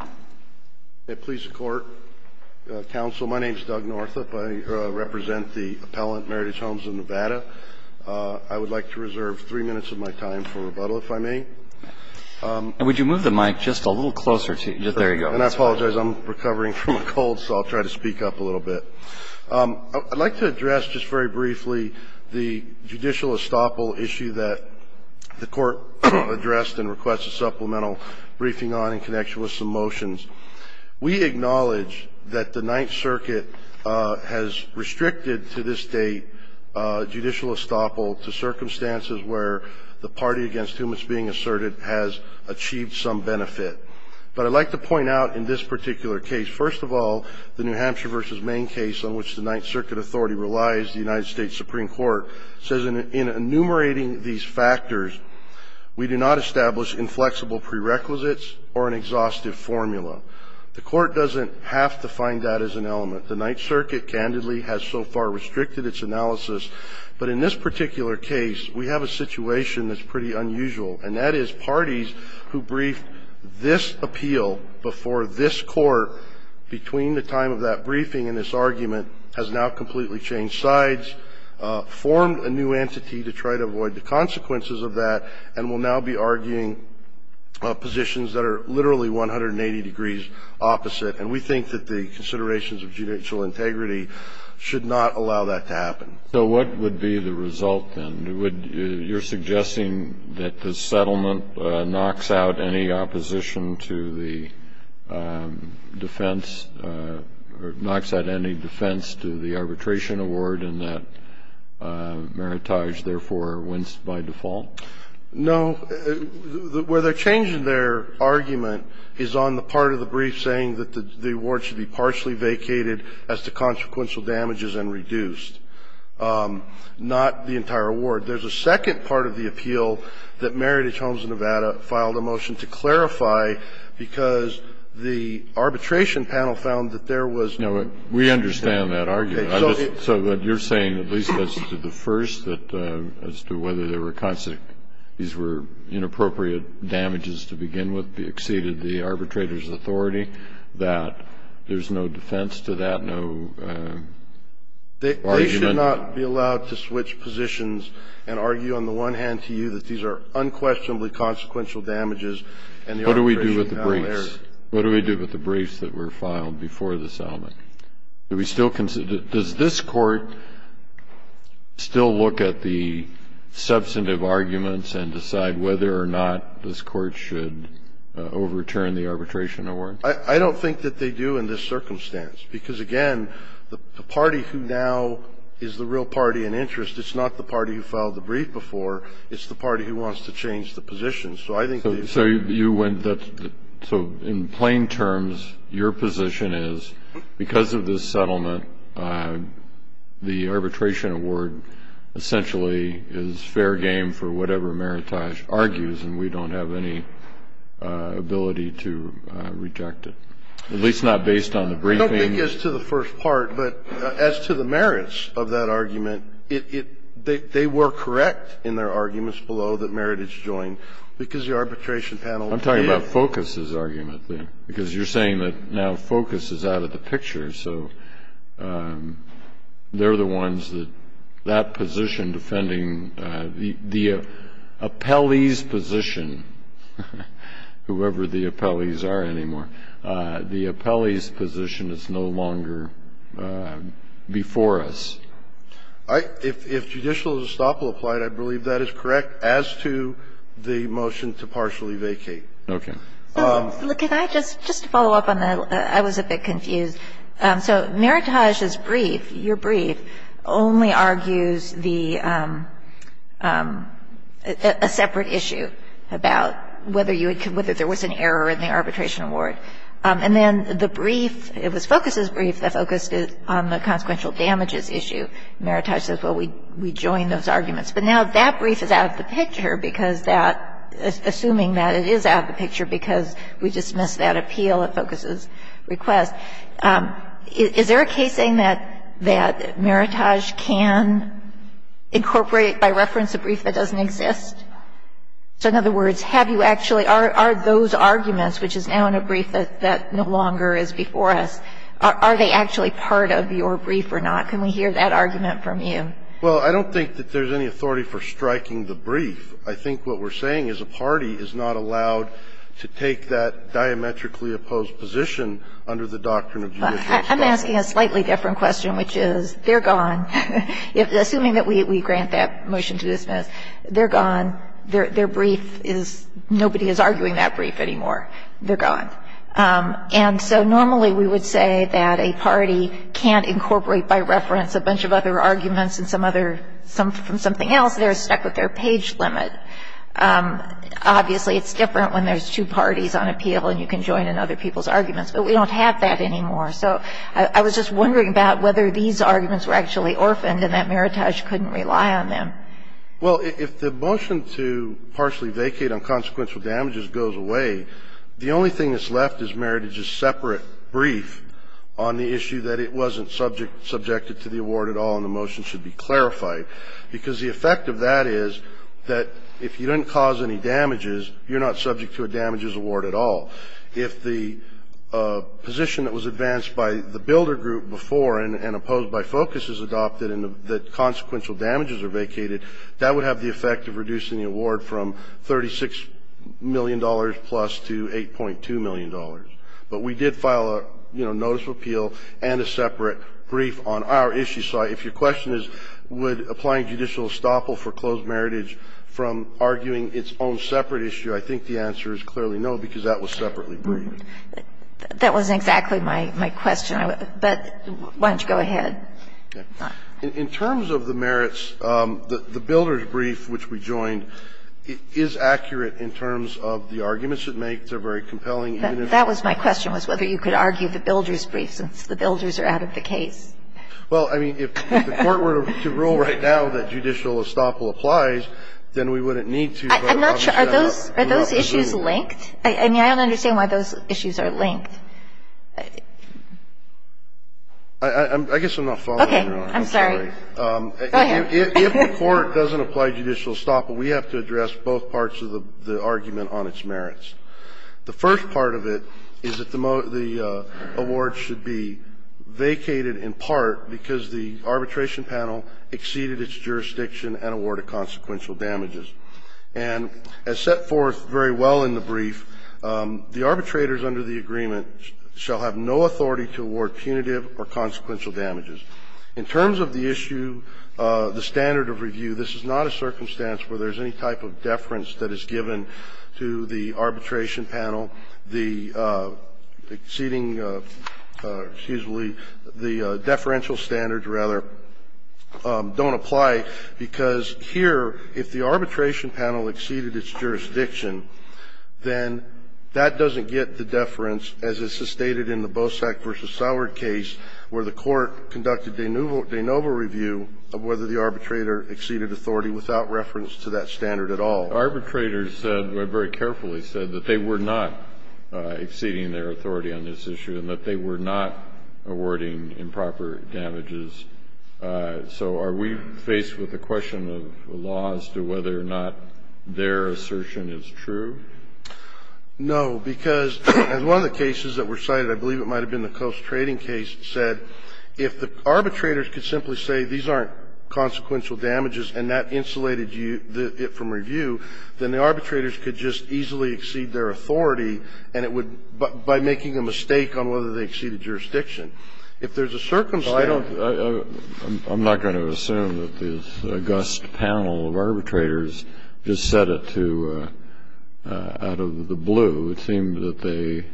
May it please the Court, Counsel, my name is Doug Northup. I represent the appellant, Meredith Holmes of Nevada. I would like to reserve three minutes of my time for rebuttal, if I may. And would you move the mic just a little closer to you? There you go. And I apologize, I'm recovering from a cold, so I'll try to speak up a little bit. I'd like to address just very briefly the judicial estoppel issue that the Court addressed and request a supplemental briefing on in connection with some motions. We acknowledge that the Ninth Circuit has restricted to this date judicial estoppel to circumstances where the party against whom it's being asserted has achieved some benefit. But I'd like to point out in this particular case, first of all, the New Hampshire v. Main case, on which the Ninth Circuit Authority relies, the United States Supreme Court, says in enumerating these factors, we do not establish inflexible prerequisites or an exhaustive formula. The Court doesn't have to find that as an element. The Ninth Circuit, candidly, has so far restricted its analysis. But in this particular case, we have a situation that's pretty unusual, and that is parties who brief this appeal before this Court between the time of that briefing has now completely changed sides, formed a new entity to try to avoid the consequences of that, and will now be arguing positions that are literally 180 degrees opposite. And we think that the considerations of judicial integrity should not allow that to happen. So what would be the result, then? You're suggesting that the settlement knocks out any opposition to the defense or knocks out any defense to the arbitration award and that Meritage therefore wins by default? No. Where they're changing their argument is on the part of the brief saying that the award should be partially vacated as to consequential damages and reduced, not the entire award. There's a second part of the appeal that Meritage Homes of Nevada filed a motion to clarify because the arbitration panel found that there was no. We understand that argument. So what you're saying, at least as to the first, that as to whether there were consequences that these were inappropriate damages to begin with, they exceeded the arbitrator's authority, that there's no defense to that, no argument. They should not be allowed to switch positions and argue on the one hand to you that What do we do with the briefs? What do we do with the briefs that were filed before the settlement? Do we still consider does this Court still look at the substantive arguments and decide whether or not this Court should overturn the arbitration award? I don't think that they do in this circumstance because, again, the party who now is the real party in interest, it's not the party who filed the brief before. It's the party who wants to change the positions. So in plain terms, your position is because of this settlement, the arbitration award essentially is fair game for whatever Meritage argues, and we don't have any ability to reject it, at least not based on the briefing. I don't think as to the first part, but as to the merits of that argument, they were correct in their arguments below that Meritage joined because the arbitration panel did. I'm talking about Focus's argument there because you're saying that now Focus is out of the picture, so they're the ones that that position defending the appellee's position, whoever the appellees are anymore. The appellee's position is no longer before us. If judicial estoppel applied, I believe that is correct as to the motion to partially vacate. Roberts. So could I just follow up on that? I was a bit confused. So Meritage's brief, your brief, only argues the – a separate issue about whether you would – whether there was an error in the arbitration award, and then the brief – it was Focus's brief that focused on the consequential damages issue. Meritage says, well, we joined those arguments. But now that brief is out of the picture because that – assuming that it is out of the picture because we dismissed that appeal at Focus's request. Is there a case saying that Meritage can incorporate by reference a brief that doesn't exist? So in other words, have you actually – are those arguments, which is now in a brief that no longer is before us, are they actually part of your brief or not? Can we hear that argument from you? Well, I don't think that there's any authority for striking the brief. I think what we're saying is a party is not allowed to take that diametrically opposed position under the doctrine of judicial estoppel. I'm asking a slightly different question, which is they're gone. Assuming that we grant that motion to dismiss, they're gone. Their brief is – nobody is arguing that brief anymore. They're gone. And so normally we would say that a party can't incorporate by reference a bunch of other arguments and some other – from something else. They're stuck with their page limit. Obviously, it's different when there's two parties on appeal and you can join in other people's arguments. But we don't have that anymore. So I was just wondering about whether these arguments were actually orphaned and that Meritage couldn't rely on them. Well, if the motion to partially vacate on consequential damages goes away, the only thing that's left is Meritage's separate brief on the issue that it wasn't subject – subjected to the award at all and the motion should be clarified. Because the effect of that is that if you didn't cause any damages, you're not subject to a damages award at all. If the position that was advanced by the builder group before and opposed by focus is adopted and the consequential damages are vacated, that would have the effect of reducing the award from $36 million plus to $8.2 million. But we did file a, you know, notice of appeal and a separate brief on our issue. So if your question is, would applying judicial estoppel for closed Meritage from arguing its own separate issue, I think the answer is clearly no, because that was separately briefed. That wasn't exactly my question. But why don't you go ahead. In terms of the merits, the builder's brief, which we joined, is accurate in terms of the arguments it makes. They're very compelling. That was my question, was whether you could argue the builder's brief since the builders are out of the case. Well, I mean, if the Court were to rule right now that judicial estoppel applies, then we wouldn't need to. I'm not sure. Are those issues linked? I mean, I don't understand why those issues are linked. I guess I'm not following you. Okay. I'm sorry. Go ahead. If the Court doesn't apply judicial estoppel, we have to address both parts of the argument on its merits. The first part of it is that the award should be vacated in part because the arbitration panel exceeded its jurisdiction and awarded consequential damages. And as set forth very well in the brief, the arbitrators under the agreement shall have no authority to award punitive or consequential damages. In terms of the issue, the standard of review, this is not a circumstance where there's any type of deference that is given to the arbitration panel. The exceeding, excuse me, the deferential standards, rather, don't apply because here, if the arbitration panel exceeded its jurisdiction, then that doesn't get the standard. This is stated in the Bosak v. Sauer case where the Court conducted de novo review of whether the arbitrator exceeded authority without reference to that standard at all. Arbitrators said, very carefully said, that they were not exceeding their authority on this issue and that they were not awarding improper damages. So are we faced with a question of the law as to whether or not their assertion is true? No, because as one of the cases that were cited, I believe it might have been the Coase trading case, said if the arbitrators could simply say these aren't consequential damages and that insulated it from review, then the arbitrators could just easily exceed their authority, and it would, by making a mistake on whether they exceeded jurisdiction. If there's a circumstance to it, I don't think that's the case. It seems that they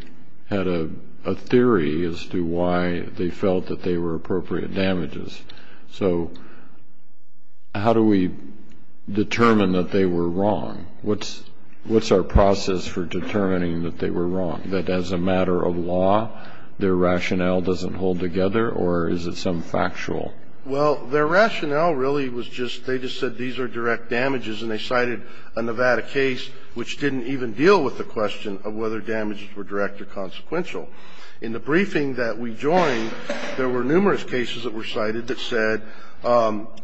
had a theory as to why they felt that they were appropriate damages. So how do we determine that they were wrong? What's our process for determining that they were wrong, that as a matter of law, their rationale doesn't hold together, or is it some factual? Well, their rationale really was just they just said these are direct damages, and they cited a Nevada case which didn't even deal with the question of whether damages were direct or consequential. In the briefing that we joined, there were numerous cases that were cited that said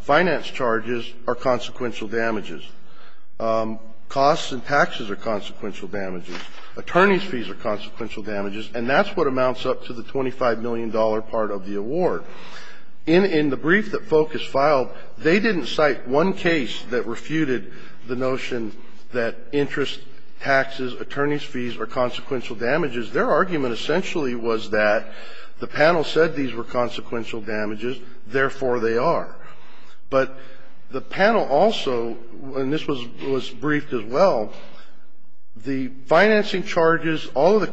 finance charges are consequential damages. Costs and taxes are consequential damages. Attorney's fees are consequential damages. And that's what amounts up to the $25 million part of the award. In the brief that FOCUS filed, they didn't cite one case that refuted the notion that interest, taxes, attorney's fees are consequential damages. Their argument essentially was that the panel said these were consequential damages, therefore, they are. But the panel also, and this was briefed as well, the financing charges, all of the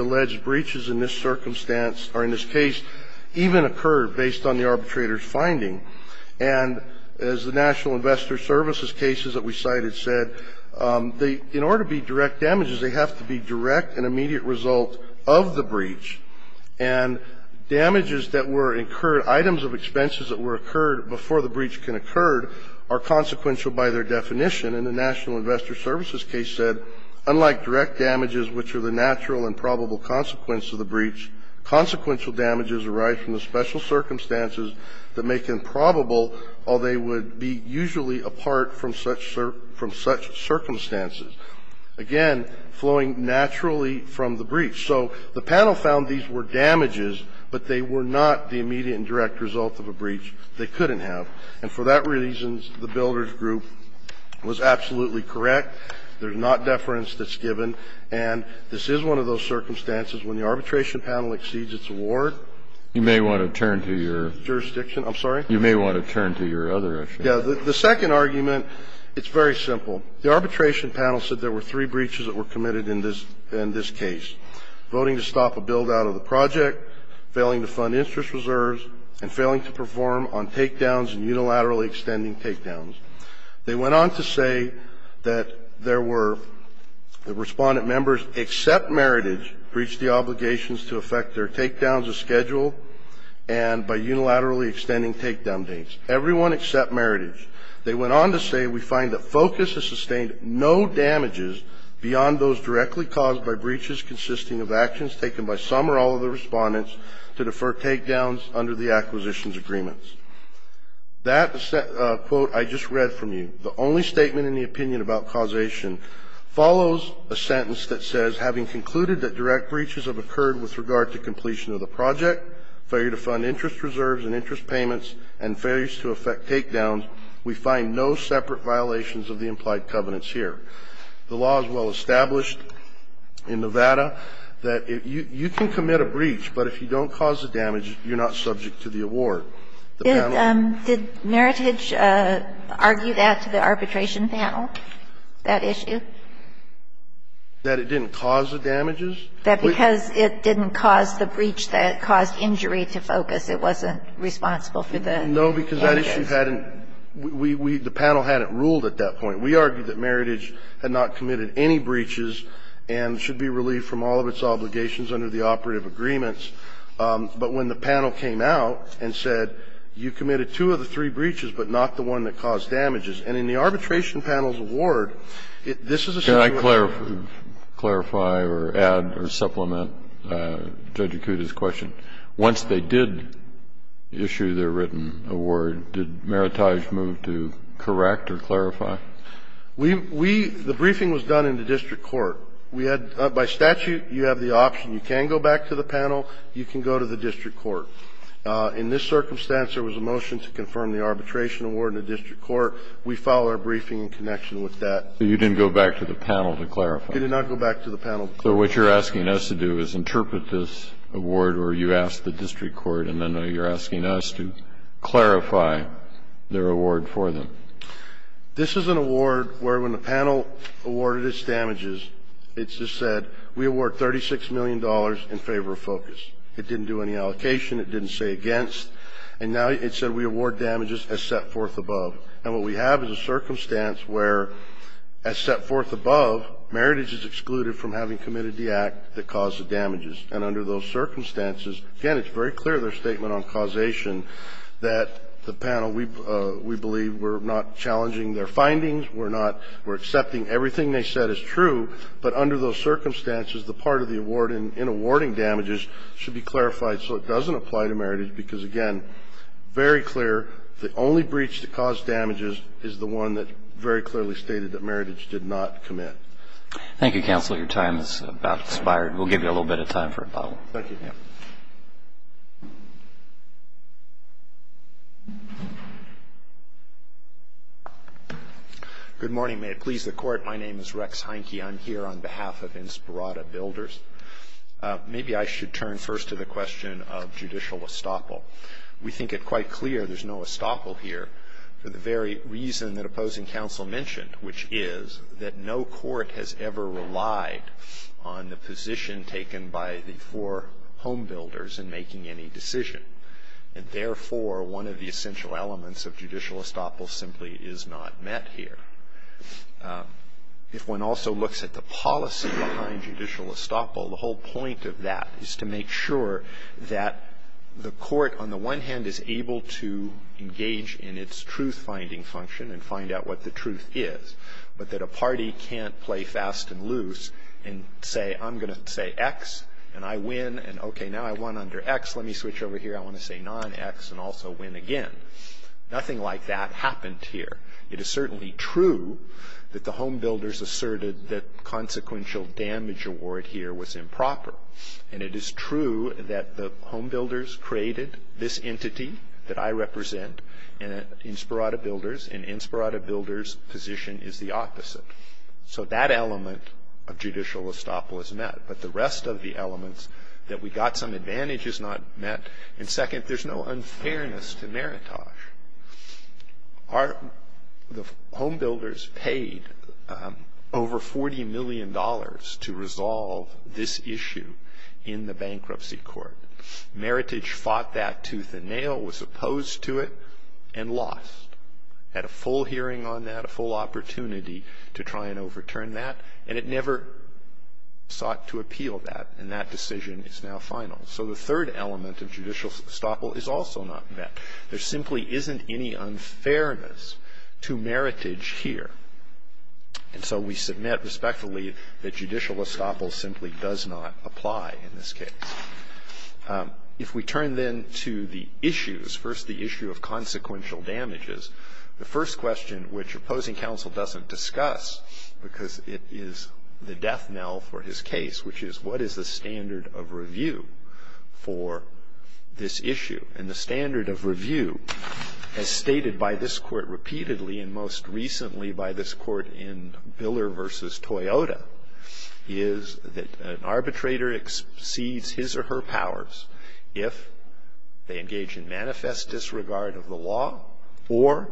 alleged breaches in this circumstance or in this case even occurred based on the arbitrator's finding. And as the National Investor Services cases that we cited said, in order to be direct damages, they have to be direct and immediate result of the breach. And damages that were incurred, items of expenses that were incurred before the breach can occur are consequential by their definition. And the National Investor Services case said, unlike direct damages, which are the natural and probable consequence of the breach, consequential damages arise from the special circumstances that make them probable or they would be usually apart from such circumstances, again, flowing naturally from the breach. So the panel found these were damages, but they were not the immediate and direct result of a breach they couldn't have. And for that reason, the builders group was absolutely correct. There's not deference that's given. And this is one of those circumstances when the arbitration panel exceeds its award. You may want to turn to your jurisdiction. I'm sorry? You may want to turn to your other issue. Yeah. The second argument, it's very simple. The arbitration panel said there were three breaches that were committed in this case, voting to stop a build-out of the project, failing to fund interest reserves, and failing to perform on takedowns and unilaterally extending takedowns. They went on to say that there were the Respondent members except Meritage breached the obligations to effect their takedowns as scheduled and by unilaterally extending takedown dates. Everyone except Meritage. They went on to say we find that FOCUS has sustained no damages beyond those directly caused by breaches consisting of actions taken by some or all of the Respondents to defer takedowns under the acquisitions agreements. That quote I just read from you, the only statement in the opinion about causation follows a sentence that says, having concluded that direct breaches have occurred with regard to completion of the project, failure to fund interest reserves and interest payments, and failures to effect takedowns, we find no separate violations of the implied covenants here. The law is well established in Nevada that you can commit a breach, but if you don't cause the damage, you're not subject to the award. Did Meritage argue that to the arbitration panel, that issue? That it didn't cause the damages? That because it didn't cause the breach, that it caused injury to FOCUS, it wasn't responsible for the damages. No, because that issue hadn't we, we, the panel hadn't ruled at that point. We argued that Meritage had not committed any breaches and should be relieved from all of its obligations under the operative agreements. But when the panel came out and said, you committed two of the three breaches, but not the one that caused damages, and in the arbitration panel's award, this is a situation. Kennedy, clarify or add or supplement Judge Akuta's question. Once they did issue their written award, did Meritage move to correct or clarify? We, we, the briefing was done in the district court. We had, by statute, you have the option. You can go back to the panel. You can go to the district court. In this circumstance, there was a motion to confirm the arbitration award in the district court. We file our briefing in connection with that. So you didn't go back to the panel to clarify? We did not go back to the panel to clarify. So what you're asking us to do is interpret this award, or you ask the district court, and then you're asking us to clarify their award for them. This is an award where when the panel awarded its damages, it just said, we award $36 million in favor of focus. It didn't do any allocation. It didn't say against. And now it said we award damages as set forth above. And what we have is a circumstance where, as set forth above, Meritage is excluded from having committed the act that caused the damages. And under those circumstances, again, it's very clear, their statement on causation, that the panel, we believe we're not challenging their findings, we're not, we're accepting everything they said is true. But under those circumstances, the part of the award in awarding damages should be clarified so it doesn't apply to Meritage, because, again, very clear, the only breach that caused damages is the one that very clearly stated that Meritage did not commit. Thank you, counsel. Your time is about to expire. We'll give you a little bit of time for rebuttal. Thank you. Good morning. May it please the Court. My name is Rex Heinke. I'm here on behalf of Inspirata Builders. Maybe I should turn first to the question of judicial estoppel. We think it quite clear there's no estoppel here for the very reason that opposing counsel mentioned, which is that no court has ever relied on the position taken by the four home builders in making any decision. And therefore, one of the essential elements of judicial estoppel simply is not met here. If one also looks at the policy behind judicial estoppel, the whole point of that is to make sure that the court, on the one hand, is able to engage in its truth-finding function and find out what the truth is, but that a party can't play fast and loose and say, I'm going to say X and I win, and okay, now I won under X. Let me switch over here. I want to say non-X and also win again. Nothing like that happened here. It is certainly true that the home builders asserted that consequential damage award here was improper. And it is true that the home builders created this entity that I represent, Inspirata Builders, and Inspirata Builders' position is the opposite. So that element of judicial estoppel is met, but the rest of the elements that we got some advantage is not met. And second, there's no unfairness to meritage. The home builders paid over $40 million to resolve this issue in the bankruptcy court. Meritage fought that tooth and nail, was opposed to it, and lost. Had a full hearing on that, a full opportunity to try and overturn that, and it never sought to appeal that, and that decision is now final. So the third element of judicial estoppel is also not met. There simply isn't any unfairness to meritage here. And so we submit respectfully that judicial estoppel simply does not apply in this case. If we turn then to the issues, first the issue of consequential damages, the first question which opposing counsel doesn't discuss because it is the death knell for his case, which is what is the standard of review for this issue? And the standard of review, as stated by this Court repeatedly and most recently by this Court in Biller v. Toyota, is that an arbitrator exceeds his or her powers if they engage in manifest disregard of the law or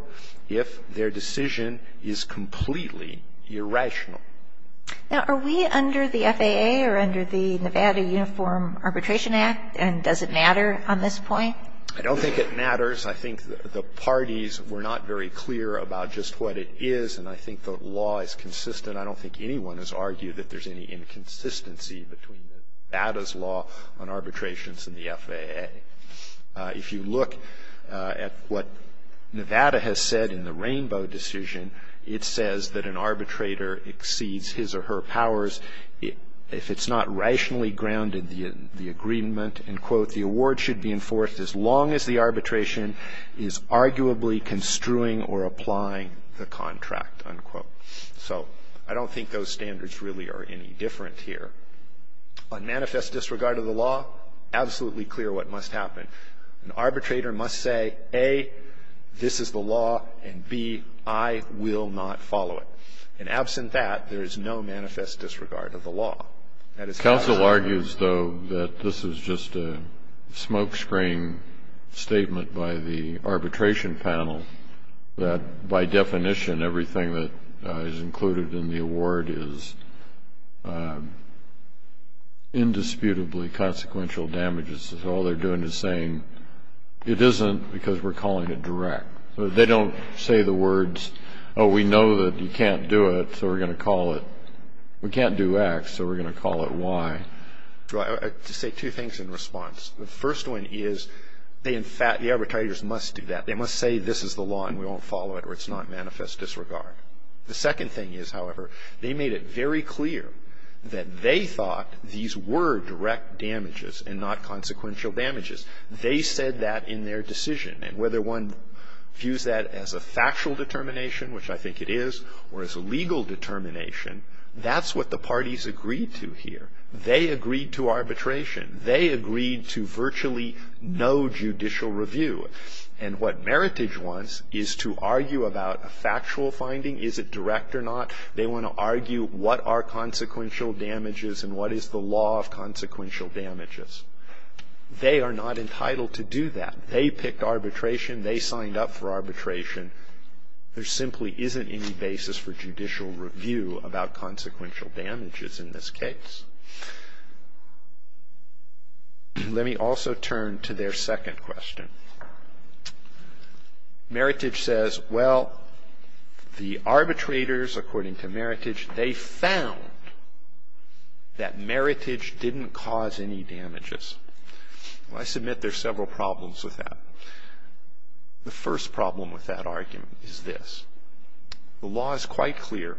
if their decision is completely irrational. Now, are we under the FAA or under the Nevada Uniform Arbitration Act and does it matter on this point? I don't think it matters. I think the parties were not very clear about just what it is, and I think the law is consistent. I don't think anyone has argued that there's any inconsistency between Nevada's law on arbitrations and the FAA. If you look at what Nevada has said in the Rainbow decision, it says that an arbitrator exceeds his or her powers if it's not rationally grounded in the agreement, and, quote, the award should be enforced as long as the arbitration is arguably construing or applying the contract, unquote. So I don't think those standards really are any different here. On manifest disregard of the law, absolutely clear what must happen. An arbitrator must say, A, this is the law, and, B, I will not follow it. And absent that, there is no manifest disregard of the law. Counsel argues, though, that this is just a smokescreen statement by the arbitration panel that, by definition, everything that is included in the award is indisputably consequential damages. All they're doing is saying, It isn't because we're calling it direct. They don't say the words, Oh, we know that you can't do it, so we're going to call it. We can't do X, so we're going to call it Y. I'll just say two things in response. The first one is the arbitrators must do that. They must say, This is the law, and we won't follow it, or it's not manifest disregard. The second thing is, however, they made it very clear that they thought these were direct damages and not consequential damages. They said that in their decision. And whether one views that as a factual determination, which I think it is, or as a legal determination, that's what the parties agreed to here. They agreed to arbitration. They agreed to virtually no judicial review. And what Meritage wants is to argue about a factual finding. Is it direct or not? They want to argue what are consequential damages and what is the law of consequential damages. They are not entitled to do that. They picked arbitration. They signed up for arbitration. There simply isn't any basis for judicial review about consequential damages in this case. Let me also turn to their second question. Meritage says, Well, the arbitrators, according to Meritage, they found that Meritage didn't cause any damages. I submit there are several problems with that. The first problem with that argument is this. The law is quite clear,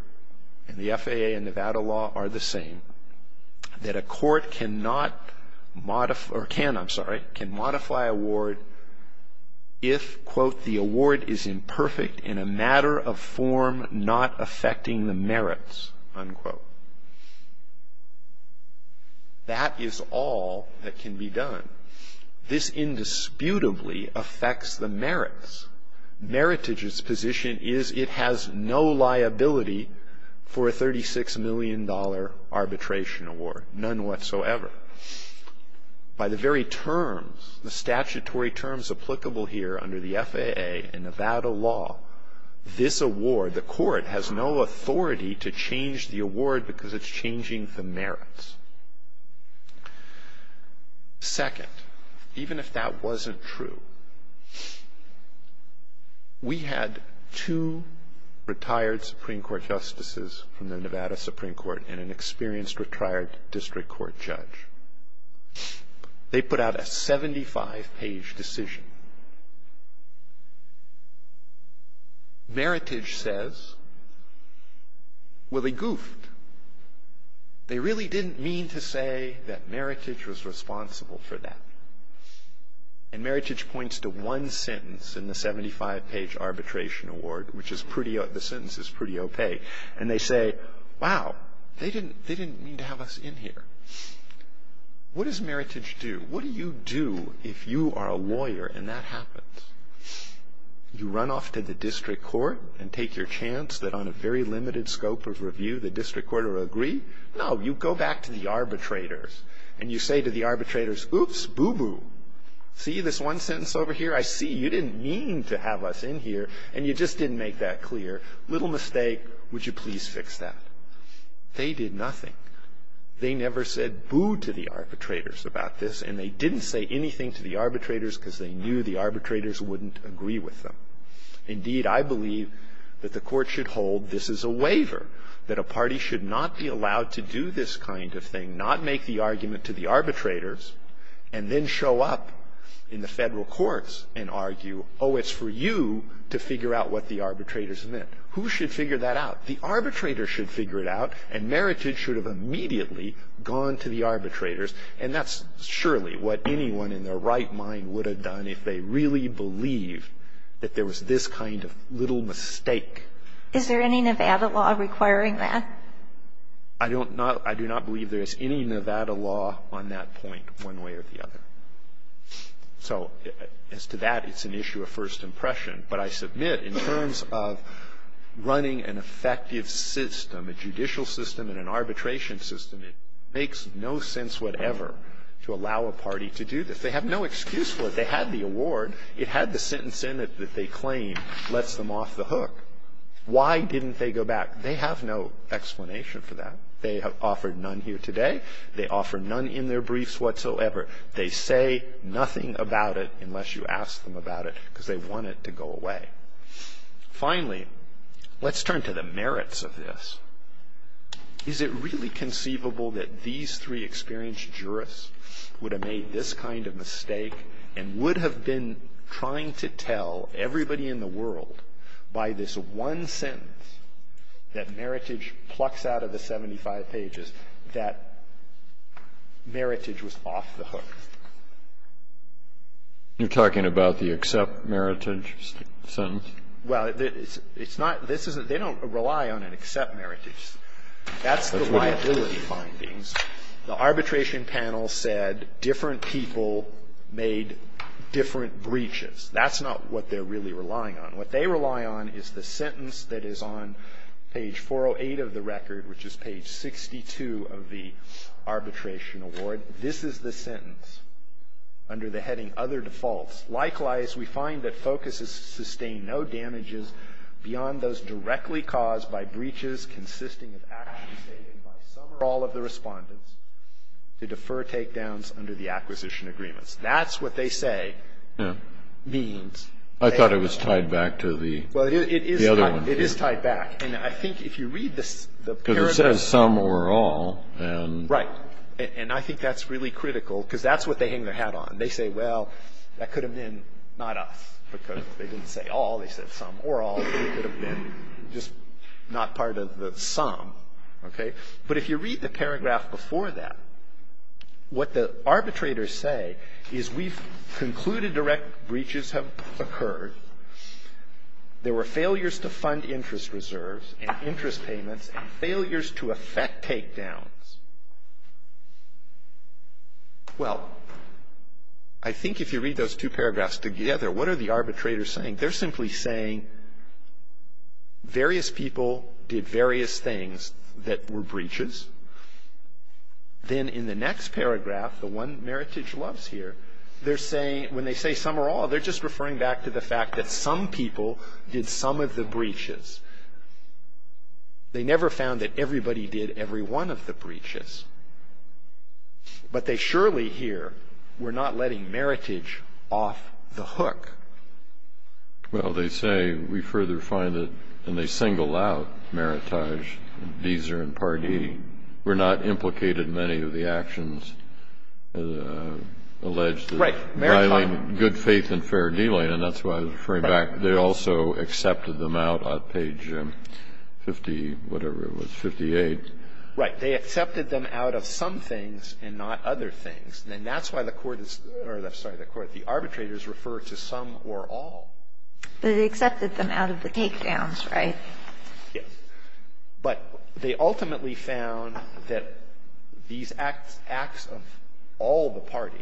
and the FAA and Nevada law are the same, that a court can modify award if, quote, the award is imperfect in a matter of form not affecting the merits, unquote. That is all that can be done. This indisputably affects the merits. Meritage's position is it has no liability for a $36 million arbitration award, none whatsoever. By the very terms, the statutory terms applicable here under the FAA and Nevada law, this award, the court has no authority to change the award because it's changing the merits. Second, even if that wasn't true, we had two retired Supreme Court justices from the Nevada Supreme Court and an experienced retired district court judge. They put out a 75-page decision. Meritage says, Well, they goofed. They really didn't mean to say that Meritage was responsible for that. And Meritage points to one sentence in the 75-page arbitration award, which the sentence is pretty opaque, and they say, Wow, they didn't mean to have us in here. What does Meritage do? What do you do if you are a lawyer and that happens? You run off to the district court and take your chance that on a very limited scope of review, the district court will agree? No, you go back to the arbitrators, and you say to the arbitrators, Oops, boo-boo. See this one sentence over here? I see you didn't mean to have us in here, and you just didn't make that clear. Little mistake. Would you please fix that? They did nothing. They never said boo to the arbitrators about this, and they didn't say anything to the arbitrators because they knew the arbitrators wouldn't agree with them. Indeed, I believe that the court should hold this is a waiver, that a party should not be allowed to do this kind of thing, not make the argument to the arbitrators and then show up in the federal courts and argue, Oh, it's for you to figure out what the arbitrators meant. Who should figure that out? The arbitrators should figure it out, and Meritage should have immediately gone to the arbitrators. And that's surely what anyone in their right mind would have done if they really believed that there was this kind of little mistake. Is there any Nevada law requiring that? I don't know. I do not believe there is any Nevada law on that point one way or the other. So as to that, it's an issue of first impression. But I submit in terms of running an effective system, a judicial system and an arbitration system, it makes no sense whatever to allow a party to do this. They have no excuse for it. They had the award. It had the sentence in it that they claim lets them off the hook. Why didn't they go back? They have no explanation for that. They have offered none here today. They offer none in their briefs whatsoever. They say nothing about it unless you ask them about it because they want it to go away. Finally, let's turn to the merits of this. Is it really conceivable that these three experienced jurists would have made this kind of mistake and would have been trying to tell everybody in the world by this one sentence that Meritage plucks out of the 75 pages that Meritage was off the hook? You're talking about the accept Meritage sentence? Well, it's not this isn't they don't rely on and accept Meritage. That's the liability findings. The arbitration panel said different people made different breaches. That's not what they're really relying on. What they rely on is the sentence that is on page 408 of the record, which is page 62 of the arbitration award. This is the sentence under the heading other defaults. Likewise, we find that focuses sustain no damages beyond those directly caused by breaches consisting of actions taken by some or all of the respondents to defer takedowns under the acquisition agreements. That's what they say means. I thought it was tied back to the other one. It is tied back. I think if you read the paragraph. It says some or all. Right. I think that's really critical because that's what they hang their hat on. They say, well, that could have been not us because they didn't say all. They said some or all. It could have been just not part of the sum. Okay. But if you read the paragraph before that, what the arbitrators say is we've concluded direct breaches have occurred. There were failures to fund interest reserves and interest payments and failures to effect takedowns. Well, I think if you read those two paragraphs together, what are the arbitrators saying? They're simply saying various people did various things that were breaches. Then in the next paragraph, the one Meritage loves here, they're saying when they say some or all, they're just referring back to the fact that some people did some of the breaches. They never found that everybody did every one of the breaches. But they surely here were not letting Meritage off the hook. Well, they say we further find that when they single out Meritage, Visa, and Pardee, were not implicated in many of the actions alleged to violate good faith and fair dealing. And that's why I was referring back. They also accepted them out on page 50, whatever it was, 58. Right. But they accepted them out of some things and not other things. And that's why the Court is or, I'm sorry, the Court, the arbitrators refer to some or all. But they accepted them out of the takedowns, right? Yes. But they ultimately found that these acts of all the parties,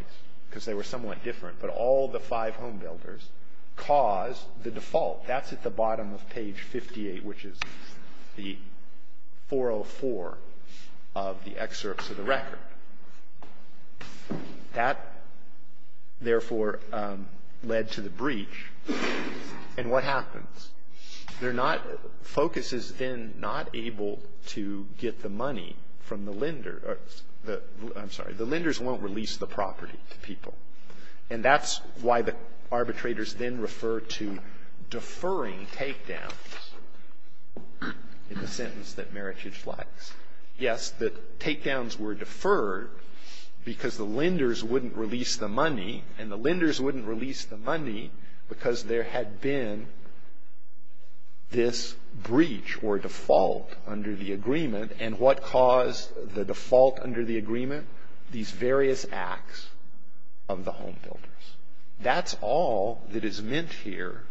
because they were somewhat different, but all the five homebuilders, caused the default. That's at the bottom of page 58, which is the 404 of the excerpts of the record. That, therefore, led to the breach. And what happens? They're not, FOCUS is then not able to get the money from the lender. I'm sorry. The lenders won't release the property to people. And that's why the arbitrators then refer to deferring takedowns in the sentence that Meritage likes. Yes, the takedowns were deferred because the lenders wouldn't release the money. And the lenders wouldn't release the money because there had been this breach or default under the agreement. And what caused the default under the agreement? These various acts of the homebuilders. That's all that is meant here.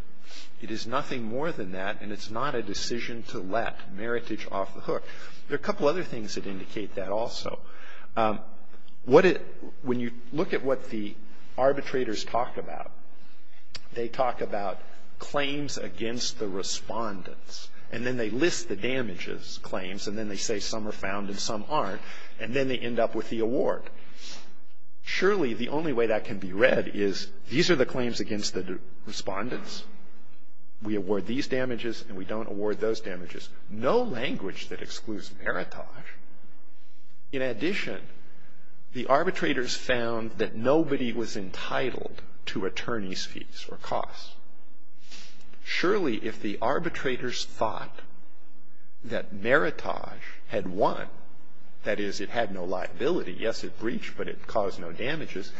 It is nothing more than that. And it's not a decision to let Meritage off the hook. There are a couple other things that indicate that also. When you look at what the arbitrators talk about, they talk about claims against the respondents. And then they list the damages claims. And then they say some are found and some aren't. And then they end up with the award. Surely the only way that can be read is these are the claims against the respondents. We award these damages and we don't award those damages. No language that excludes Meritage. In addition, the arbitrators found that nobody was entitled to attorney's fees or costs. Surely if the arbitrators thought that Meritage had won, that is it had no liability. Yes, it breached, but it caused no damages.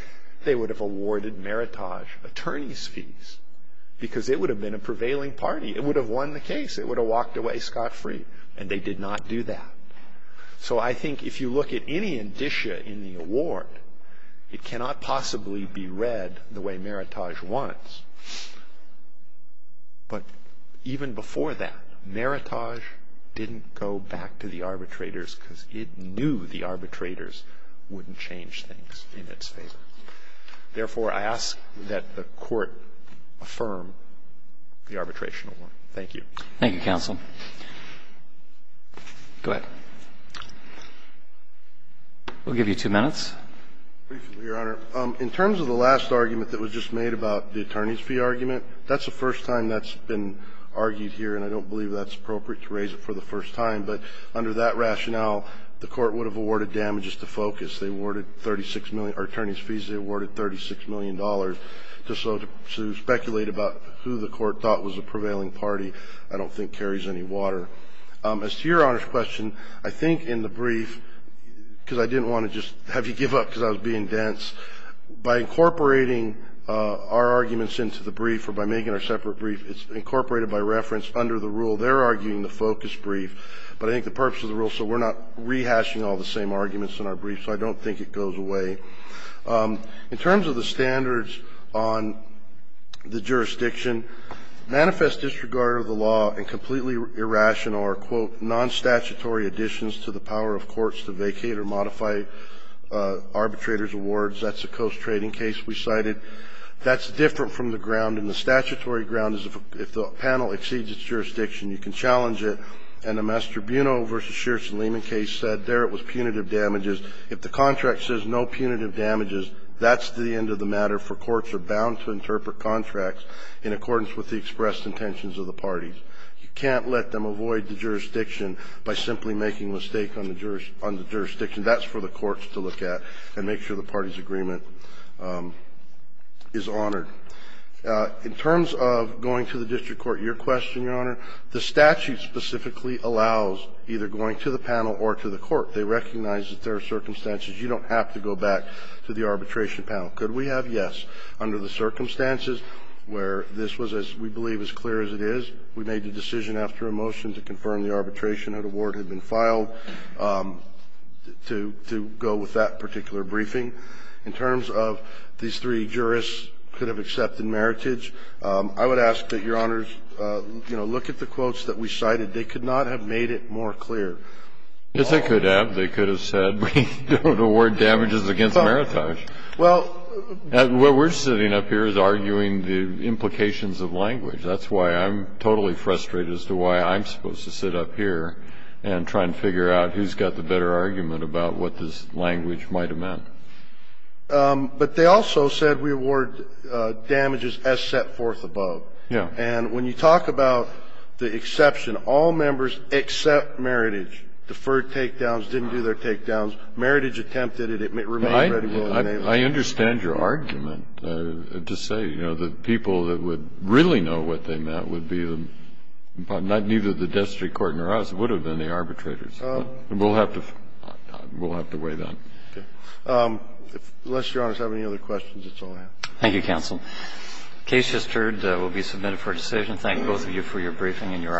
They would have awarded Meritage attorney's fees because it would have been a prevailing party. It would have won the case. It would have walked away scot-free. And they did not do that. So I think if you look at any indicia in the award, it cannot possibly be read the way Meritage wants. But even before that, Meritage didn't go back to the arbitrators because it knew the arbitrators wouldn't change things in its favor. Therefore, I ask that the Court affirm the arbitration award. Thank you. Thank you, Counsel. Go ahead. We'll give you two minutes. Briefly, Your Honor. In terms of the last argument that was just made about the attorney's fee argument, that's the first time that's been argued here, and I don't believe that's appropriate to raise it for the first time. But under that rationale, the Court would have awarded damages to Focus. They awarded 36 million or attorney's fees. They awarded $36 million. Just so to speculate about who the Court thought was a prevailing party, I don't think carries any water. As to Your Honor's question, I think in the brief, because I didn't want to just have you give up because I was being dense, by incorporating our arguments into the brief or by making our separate brief, it's incorporated by reference under the rule. They're arguing the Focus brief, but I think the purpose of the rule is so we're not rehashing all the same arguments in our brief, so I don't think it goes away. In terms of the standards on the jurisdiction, manifest disregard of the law and completely irrational or, quote, nonstatutory additions to the power of courts to vacate or modify arbitrators' awards, that's a Coase trading case we cited. That's different from the ground. In the statutory ground, if the panel exceeds its jurisdiction, you can challenge it. And the Mass. Tribunal v. Shearson-Lehman case said there it was punitive damages. If the contract says no punitive damages, that's the end of the matter, for courts are bound to interpret contracts in accordance with the expressed intentions of the parties. You can't let them avoid the jurisdiction by simply making a mistake on the jurisdiction. That's for the courts to look at and make sure the parties' agreement is honored. In terms of going to the district court, your question, Your Honor, the statute specifically allows either going to the panel or to the court. They recognize that there are circumstances. You don't have to go back to the arbitration panel. Could we have? Yes. Under the circumstances where this was, as we believe, as clear as it is, we made a decision after a motion to confirm the arbitration that a ward had been filed to go with that particular briefing. In terms of these three jurists could have accepted meritage, I would ask that Your Honors, you know, look at the quotes that we cited. They could not have made it more clear. Yes, they could have. They could have said we don't award damages against meritage. Well, what we're sitting up here is arguing the implications of language. That's why I'm totally frustrated as to why I'm supposed to sit up here and try and figure out who's got the better argument about what this language might have meant. But they also said we award damages as set forth above. Yes. And when you talk about the exception, all members except meritage, deferred takedowns, didn't do their takedowns. Meritage attempted it. It remained ready to go. I understand your argument to say, you know, the people that would really know what they meant would be the – neither the district court nor us would have been the arbitrators. We'll have to weigh that. Okay. Unless Your Honors have any other questions, that's all I have. Thank you, counsel. The case just heard will be submitted for decision. Thank both of you for your briefing and your arguments today.